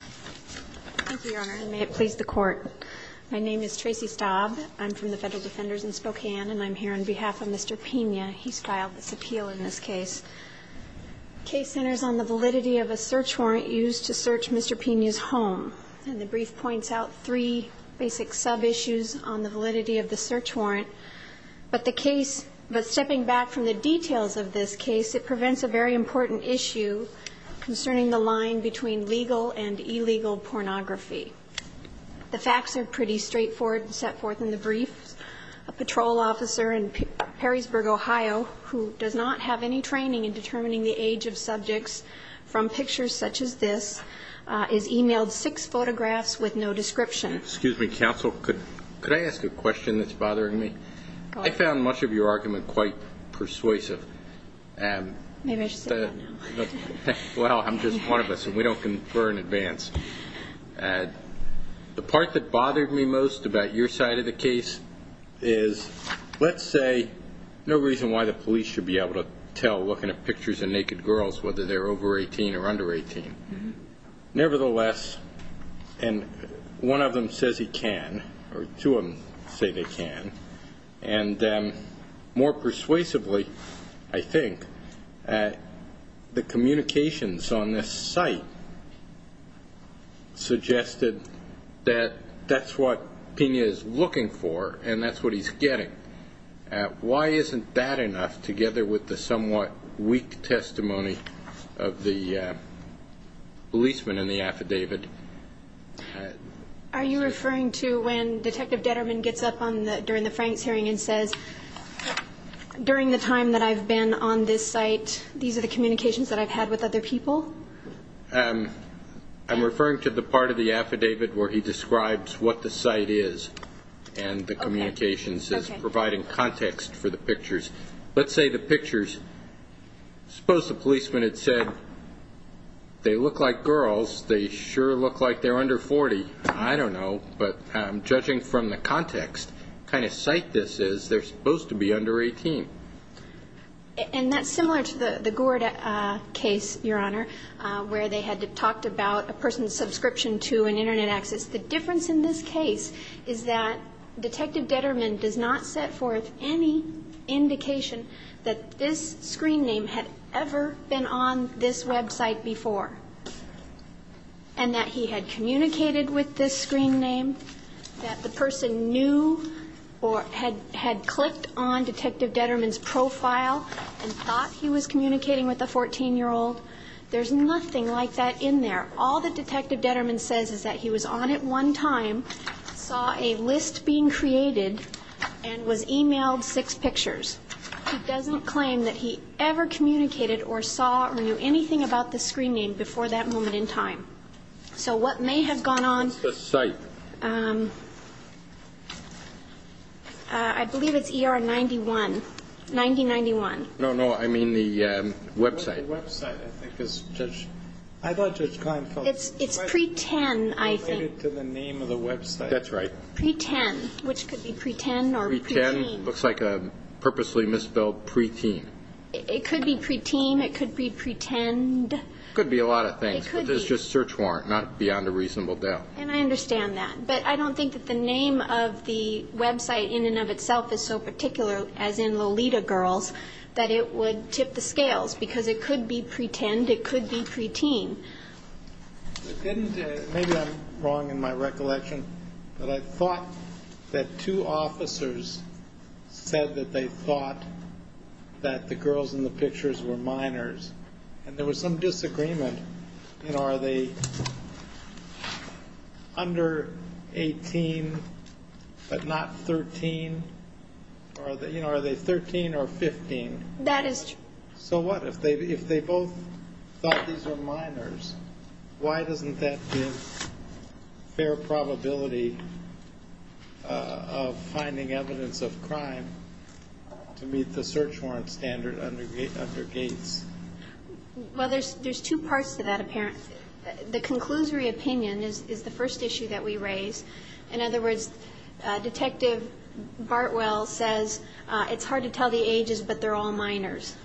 Thank you, Your Honor, and may it please the Court. My name is Tracy Staub. I'm from the Federal Defenders in Spokane, and I'm here on behalf of Mr. Pena. He's filed this appeal in this case. The case centers on the validity of a search warrant used to search Mr. Pena's home. And the brief points out three basic sub-issues on the validity of the search warrant. But the case, but stepping back from the details of this case, it prevents a very important issue concerning the line between legal and illegal pornography. The facts are pretty straightforward and set forth in the brief. A patrol officer in Perrysburg, Ohio, who does not have any training in determining the age of subjects from pictures such as this, is emailed six photographs with no description. Excuse me, counsel, could I ask a question that's bothering me? I found much of your argument quite persuasive. Well, I'm just one of us, and we don't confer in advance. The part that bothered me most about your side of the case is, let's say, no reason why the police should be able to tell looking at pictures of naked girls whether they're over 18 or under 18. Nevertheless, and one of them says he can, or two of them say they can, and more persuasively, I think, the communications on this site suggested that that's what Pena is looking for and that's what he's getting. Why isn't that enough, together with the somewhat weak testimony of the policeman in the affidavit? Are you referring to when Detective Detterman gets up during the Franks hearing and says, during the time that I've been on this site, these are the communications that I've had with other people? I'm referring to the part of the affidavit where he describes what the site is and the communications is providing context for the pictures. Let's say the pictures, suppose the policeman had said, they look like girls, they sure look like they're under 40. I don't know, but judging from the context, the kind of site this is, they're supposed to be under 18. And that's similar to the Gourd case, Your Honor, where they had talked about a person's subscription to an Internet access. The difference in this case is that Detective Detterman does not set forth any indication that this screen name had ever been on this website before, and that he had communicated with this screen name, that the person knew or had clicked on Detective Detterman's profile and thought he was communicating with a 14-year-old. There's nothing like that in there. All that Detective Detterman says is that he was on it one time, saw a list being created, and was emailed six pictures. He doesn't claim that he ever communicated or saw or knew anything about this screen name before that moment in time. So what may have gone on ñ What's the site? I believe it's ER 91, 9091. No, no, I mean the website. The website, I think, is Judge ñ I thought Judge Kleinfeld ñ It's pre-10, I think. Related to the name of the website. That's right. Pre-10, which could be pre-10 or pre-teen. Pre-10 looks like a purposely misspelled pre-teen. It could be pre-teen, it could be pre-10. It could be a lot of things. It could be. It's just search warrant, not beyond a reasonable doubt. And I understand that. But I don't think that the name of the website in and of itself is so particular, as in Lolita Girls, that it would tip the scales, because it could be pre-10, it could be pre-teen. Maybe I'm wrong in my recollection, but I thought that two officers said that they thought that the girls in the pictures were minors, and there was some disagreement. You know, are they under 18, but not 13? You know, are they 13 or 15? That is true. So what? If they both thought these were minors, why doesn't that give fair probability of finding evidence of crime to meet the search warrant standard under Gates? Well, there's two parts to that, apparently. The conclusory opinion is the first issue that we raise. In other words, Detective Bartwell says it's hard to tell the ages, but they're all minors.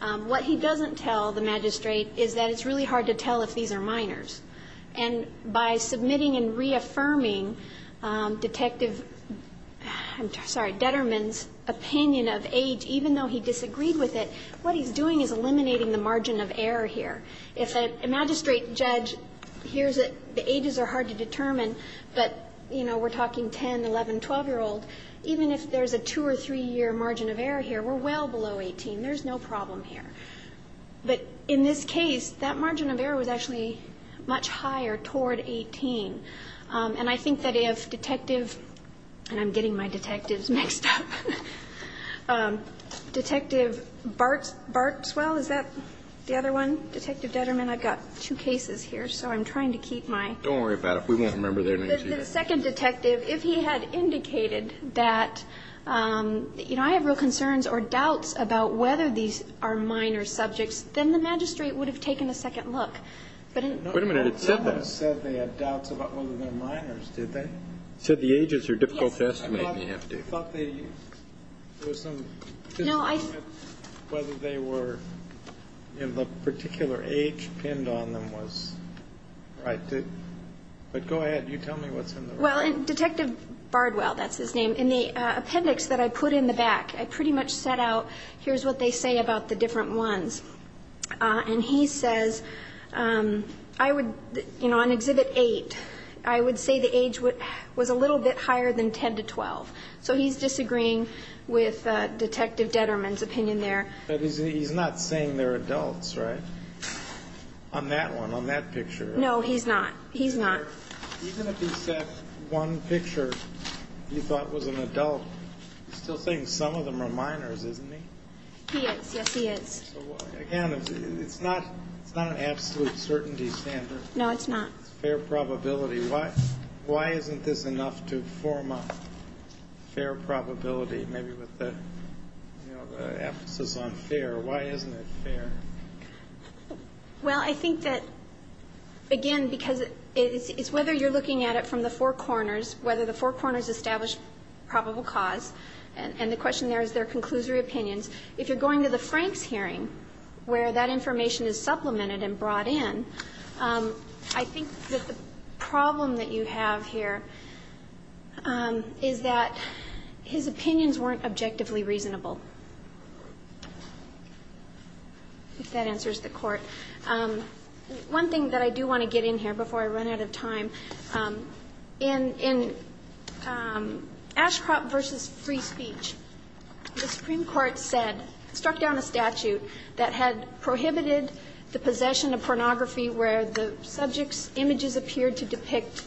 What he doesn't tell the magistrate is that it's really hard to tell if these are minors. And by submitting and reaffirming Detective, I'm sorry, Detterman's opinion of age, even though he disagreed with it, what he's doing is eliminating the margin of error here. If a magistrate judge hears that the ages are hard to determine, but, you know, we're talking 10, 11, 12-year-old, even if there's a two- or three-year margin of error here, we're well below 18. There's no problem here. But in this case, that margin of error was actually much higher toward 18. And I think that if Detective, and I'm getting my detectives mixed up, Detective Bartwell, is that the other one? Detective Detterman, I've got two cases here, so I'm trying to keep my... Don't worry about it. We won't remember their names either. The second detective, if he had indicated that, you know, I have real concerns or doubts about whether these are minor subjects, then the magistrate would have taken a second look. But in... Wait a minute. I thought it said that. It said they had doubts about whether they're minors, did they? It said the ages are difficult to estimate. Yes. I thought they, there was some... No, I... Whether they were in the particular age pinned on them was right. But go ahead. You tell me what's in the record. Well, Detective Bartwell, that's his name, in the appendix that I put in the back, I pretty much set out, here's what they say about the different ones. And he says, I would, you know, on Exhibit 8, I would say the age was a little bit higher than 10 to 12. So he's disagreeing with Detective Detterman's opinion there. But he's not saying they're adults, right, on that one, on that picture? No, he's not. He's not. Even if he said one picture he thought was an adult, he's still saying some of them are minors, isn't he? He is. Yes, he is. So, again, it's not an absolute certainty standard. No, it's not. It's fair probability. Why isn't this enough to form a fair probability, maybe with the emphasis on fair? Why isn't it fair? Well, I think that, again, because it's whether you're looking at it from the four corners, whether the four corners establish probable cause, and the question there is their conclusory opinions. If you're going to the Franks hearing where that information is supplemented and brought in, I think that the problem that you have here is that his opinions weren't objectively reasonable, if that answers the Court. One thing that I do want to get in here before I run out of time, in Ashcroft v. Free Speech, the Supreme Court said, struck down a statute that had prohibited the possession of pornography where the subject's images appeared to depict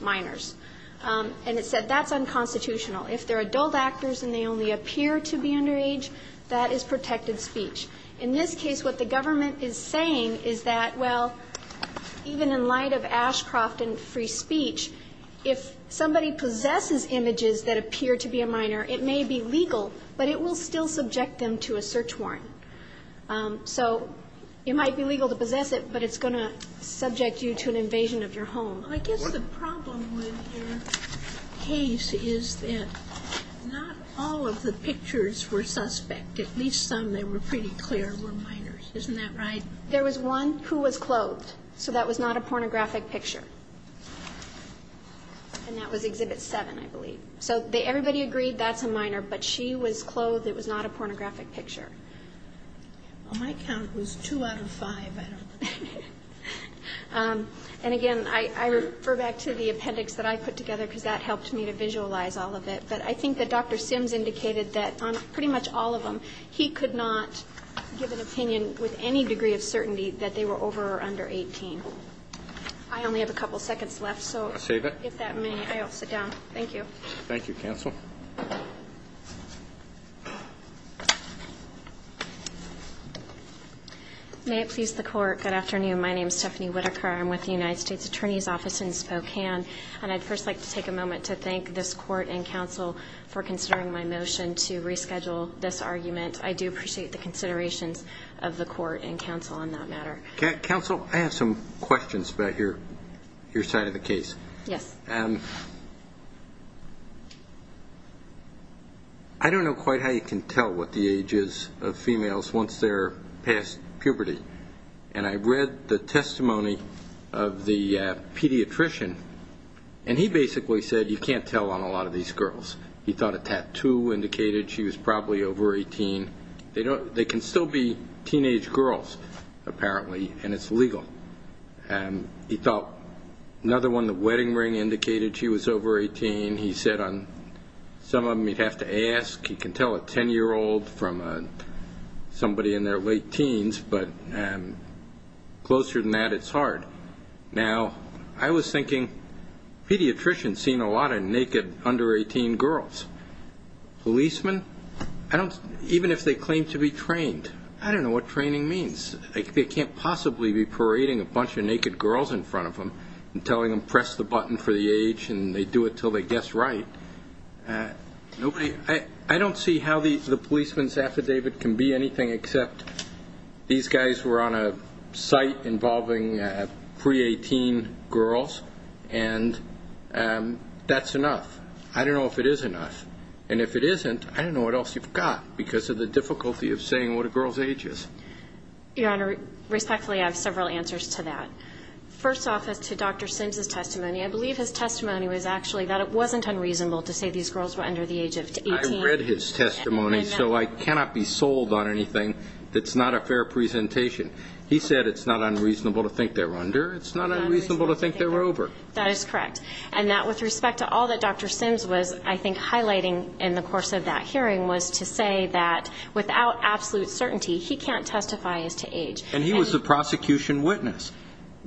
minors. And it said that's unconstitutional. If they're adult actors and they only appear to be underage, that is protected speech. In this case, what the government is saying is that, well, even in light of Ashcroft v. Free Speech, if somebody possesses images that appear to be a minor, it may be legal, but it will still subject them to a search warrant. So it might be legal to possess it, but it's going to subject you to an invasion of your home. I guess the problem with your case is that not all of the pictures were suspect. At least some that were pretty clear were minors. Isn't that right? There was one who was clothed. So that was not a pornographic picture. And that was Exhibit 7, I believe. So everybody agreed that's a minor, but she was clothed. It was not a pornographic picture. On my count, it was two out of five. I don't know. And, again, I refer back to the appendix that I put together because that helped me to visualize all of it. But I think that Dr. Sims indicated that on pretty much all of them, he could not give an opinion with any degree of certainty that they were over or under 18. I only have a couple seconds left, so if that may, I'll sit down. Thank you. Thank you, counsel. May it please the Court. Good afternoon. My name is Stephanie Whitaker. I'm with the United States Attorney's Office in Spokane. And I'd first like to take a moment to thank this Court and counsel for considering my motion to reschedule this argument. I do appreciate the considerations of the Court and counsel on that matter. Counsel, I have some questions about your side of the case. Yes. I don't know quite how you can tell what the age is of females once they're past puberty. And I read the testimony of the pediatrician, and he basically said you can't tell on a lot of these girls. He thought a tattoo indicated she was probably over 18. They can still be teenage girls, apparently, and it's legal. He thought another one, the wedding ring, indicated she was over 18. He said on some of them you'd have to ask. He can tell a 10-year-old from somebody in their late teens. But closer than that, it's hard. Now, I was thinking pediatricians seen a lot of naked under-18 girls. Policemen, even if they claim to be trained, I don't know what training means. They can't possibly be parading a bunch of naked girls in front of them and telling them press the button for the age, and they do it until they guess right. I don't see how the policeman's affidavit can be anything except these guys were on a site involving pre-18 girls, and that's enough. I don't know if it is enough. And if it isn't, I don't know what else you've got because of the difficulty of saying what a girl's age is. Your Honor, respectfully, I have several answers to that. First off is to Dr. Sims' testimony. I believe his testimony was actually that it wasn't unreasonable to say these girls were under the age of 18. I read his testimony, so I cannot be sold on anything that's not a fair presentation. He said it's not unreasonable to think they're under. It's not unreasonable to think they're over. That is correct. And that with respect to all that Dr. Sims was, I think, highlighting in the course of that hearing was to say that without absolute certainty he can't testify as to age. And he was the prosecution witness.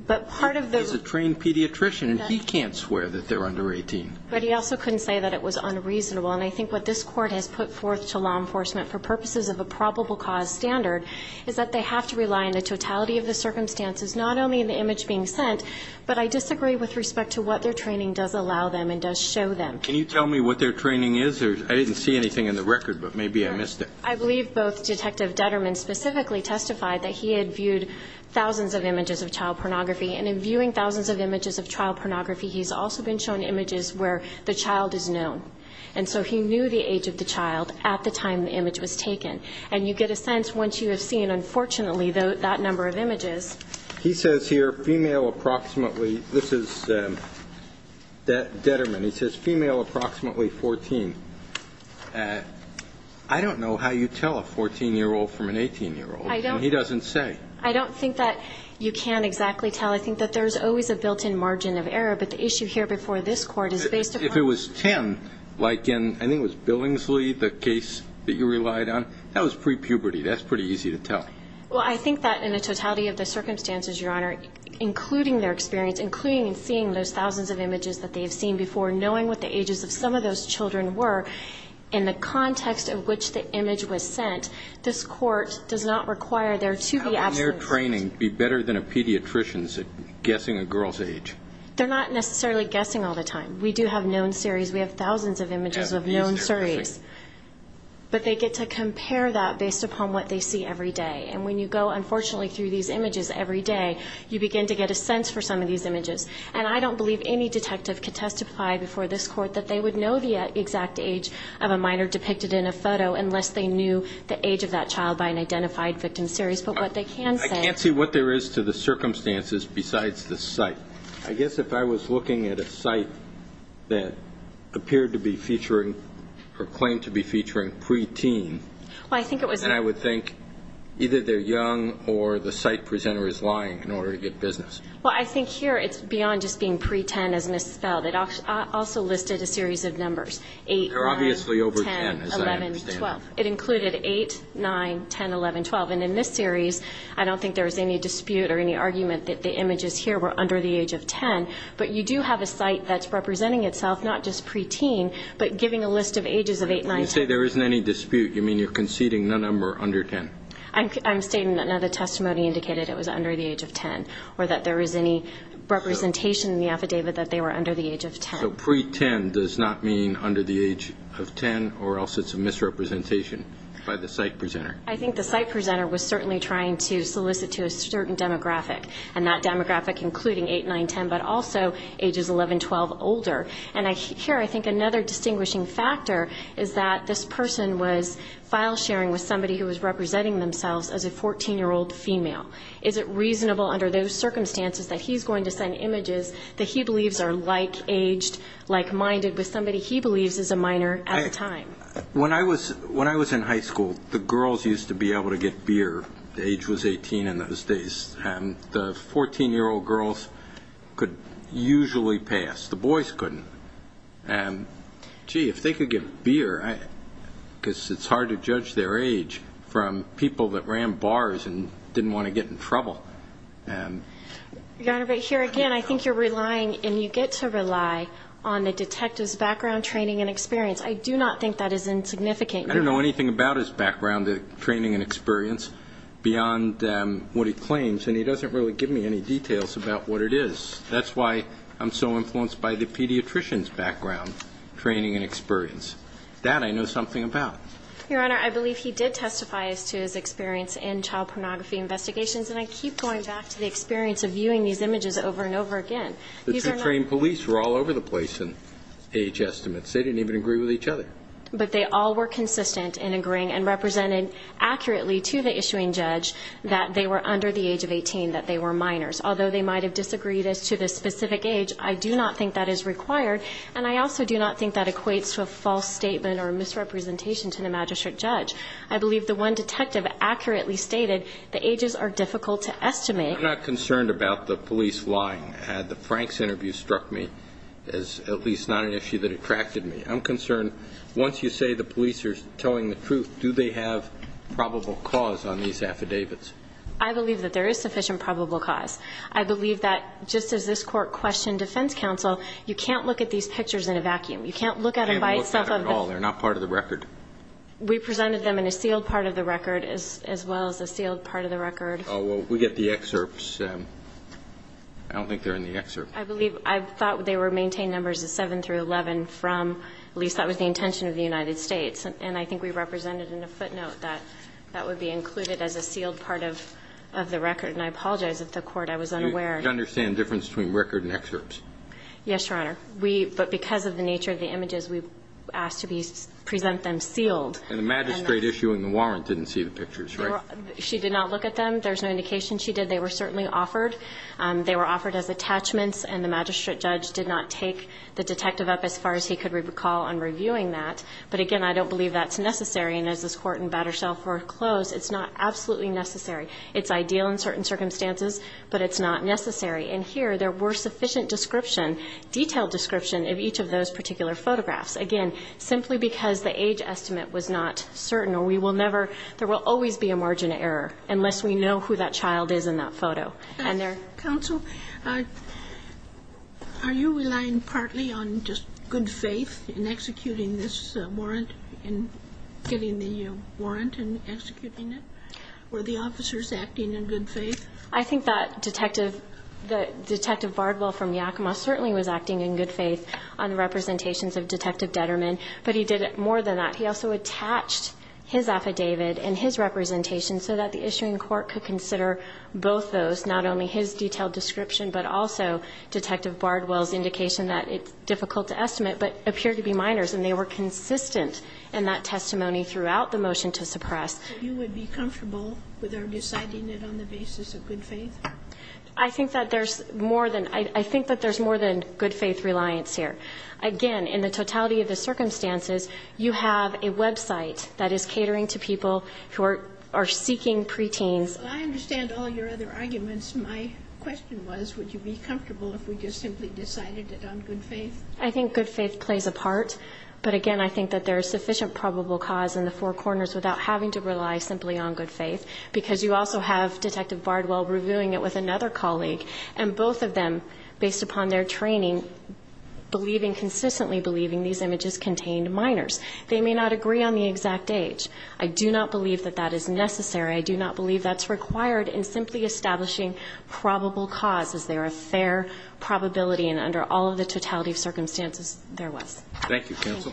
He's a trained pediatrician, and he can't swear that they're under 18. But he also couldn't say that it was unreasonable. And I think what this court has put forth to law enforcement for purposes of a probable cause standard is that they have to rely on the totality of the circumstances, not only in the image being sent, but I disagree with respect to what their training does allow them and does show them. Can you tell me what their training is? I didn't see anything in the record, but maybe I missed it. I believe both Detective Detterman specifically testified that he had viewed thousands of images of child pornography. And in viewing thousands of images of child pornography, he's also been shown images where the child is known. And so he knew the age of the child at the time the image was taken. And you get a sense once you have seen, unfortunately, that number of images. He says here female approximately. This is Detterman. He says female approximately 14. I don't know how you tell a 14-year-old from an 18-year-old. And he doesn't say. I don't think that you can exactly tell. I think that there's always a built-in margin of error. But the issue here before this court is based upon the... That was pre-puberty. That's pretty easy to tell. Well, I think that in the totality of the circumstances, Your Honor, including their experience, including seeing those thousands of images that they've seen before, knowing what the ages of some of those children were in the context of which the image was sent, this court does not require there to be absence. How can their training be better than a pediatrician's at guessing a girl's age? They're not necessarily guessing all the time. We do have known series. We have thousands of images of known series. But they get to compare that based upon what they see every day. And when you go, unfortunately, through these images every day, you begin to get a sense for some of these images. And I don't believe any detective could testify before this court that they would know the exact age of a minor depicted in a photo unless they knew the age of that child by an identified victim series. But what they can say... I can't see what there is to the circumstances besides the site. I guess if I was looking at a site that appeared to be featuring or claimed to be featuring preteen, I would think either they're young or the site presenter is lying in order to get business. Well, I think here it's beyond just being pre-10 as misspelled. It also listed a series of numbers, 8, 9, 10, 11, 12. It included 8, 9, 10, 11, 12. And in this series, I don't think there was any dispute or any argument that the images here were under the age of 10. But you do have a site that's representing itself, not just preteen, but giving a list of ages of 8, 9, 10. When you say there isn't any dispute, you mean you're conceding none of them are under 10? I'm stating that none of the testimony indicated it was under the age of 10 or that there is any representation in the affidavit that they were under the age of 10. So pre-10 does not mean under the age of 10 or else it's a misrepresentation by the site presenter? I think the site presenter was certainly trying to solicit to a certain demographic, and that demographic including 8, 9, 10, but also ages 11, 12, older. And here I think another distinguishing factor is that this person was file sharing with somebody who was representing themselves as a 14-year-old female. Is it reasonable under those circumstances that he's going to send images that he believes are like-aged, like-minded with somebody he believes is a minor at the time? When I was in high school, the girls used to be able to get beer. Age was 18 in those days. The 14-year-old girls could usually pass. The boys couldn't. Gee, if they could get beer, because it's hard to judge their age from people that ran bars and didn't want to get in trouble. Your Honor, but here again I think you're relying and you get to rely on the detective's background, training, and experience. I do not think that is insignificant. I don't know anything about his background, training, and experience beyond what he claims, and he doesn't really give me any details about what it is. That's why I'm so influenced by the pediatrician's background, training, and experience. That I know something about. Your Honor, I believe he did testify as to his experience in child pornography investigations, and I keep going back to the experience of viewing these images over and over again. The trained police were all over the place in age estimates. They didn't even agree with each other. But they all were consistent in agreeing and represented accurately to the issuing judge that they were under the age of 18, that they were minors. Although they might have disagreed as to the specific age, I do not think that is required, and I also do not think that equates to a false statement or a misrepresentation to the magistrate judge. I believe the one detective accurately stated the ages are difficult to estimate. I'm not concerned about the police lying. The Franks interview struck me as at least not an issue that attracted me. I'm concerned once you say the police are telling the truth, do they have probable cause on these affidavits? I believe that there is sufficient probable cause. I believe that just as this court questioned defense counsel, you can't look at these pictures in a vacuum. You can't look at them by itself. You can't look at them at all. They're not part of the record. We presented them in a sealed part of the record as well as a sealed part of the record. Oh, well, we get the excerpts. I don't think they're in the excerpt. I believe, I thought they were maintained numbers of 7 through 11 from, at least that was the intention of the United States. And I think we represented in a footnote that that would be included as a sealed part of the record. And I apologize if the Court, I was unaware. You understand the difference between record and excerpts? Yes, Your Honor. We, but because of the nature of the images, we asked to present them sealed. And the magistrate issuing the warrant didn't see the pictures, right? She did not look at them. There's no indication she did. They were certainly offered. They were offered as attachments. And the magistrate judge did not take the detective up as far as he could recall on reviewing that. But, again, I don't believe that's necessary. And as this Court in Battershall foreclosed, it's not absolutely necessary. It's ideal in certain circumstances, but it's not necessary. And here there were sufficient description, detailed description of each of those particular photographs. Again, simply because the age estimate was not certain, or we will never, there will always be a margin of error, unless we know who that child is in that photo. Counsel, are you relying partly on just good faith in executing this warrant, in getting the warrant and executing it? Were the officers acting in good faith? I think that Detective Bardwell from Yakima certainly was acting in good faith on representations of Detective Detterman, but he did more than that. He also attached his affidavit and his representation so that the issuing court could consider both those, not only his detailed description, but also Detective Bardwell's indication that it's difficult to estimate, but appeared to be minors, and they were consistent in that testimony throughout the motion to suppress. So you would be comfortable with her deciding it on the basis of good faith? I think that there's more than – I think that there's more than good faith reliance Again, in the totality of the circumstances, you have a website that is catering to people who are seeking preteens. Well, I understand all your other arguments. My question was, would you be comfortable if we just simply decided it on good faith? I think good faith plays a part, but again, I think that there is sufficient probable cause in the four corners without having to rely simply on good faith, because you also have Detective Bardwell reviewing it with another colleague, and both of them, based upon their training, believing, consistently believing these images contained minors. They may not agree on the exact age. I do not believe that that is necessary. I do not believe that's required in simply establishing probable cause. Is there a fair probability in under all of the totality of circumstances there was? Thank you, counsel.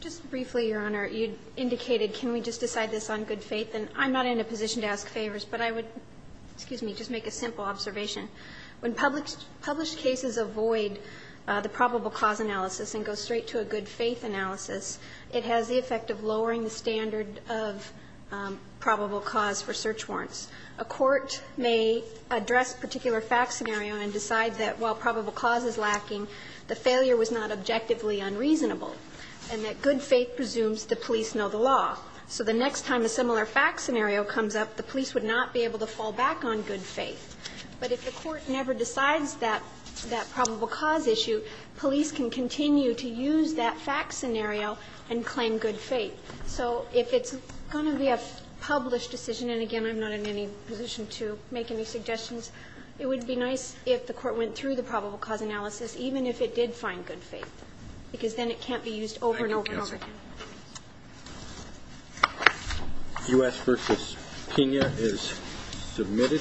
Just briefly, Your Honor, you indicated can we just decide this on good faith, and I'm not in a position to ask favors, but I would – excuse me – just make a simple observation. When published cases avoid the probable cause analysis and go straight to a good faith analysis, it has the effect of lowering the standard of probable cause for search warrants. A court may address a particular fact scenario and decide that while probable cause is lacking, the failure was not objectively unreasonable, and that good faith presumes the police know the law. So the next time a similar fact scenario comes up, the police would not be able to fall back on good faith. But if the court never decides that probable cause issue, police can continue to use that fact scenario and claim good faith. So if it's going to be a published decision, and again, I'm not in any position to make any suggestions, it would be nice if the court went through the probable cause analysis, even if it did find good faith, because then it can't be used over and over and over again. Thank you, counsel. U.S. v. Pena is submitted.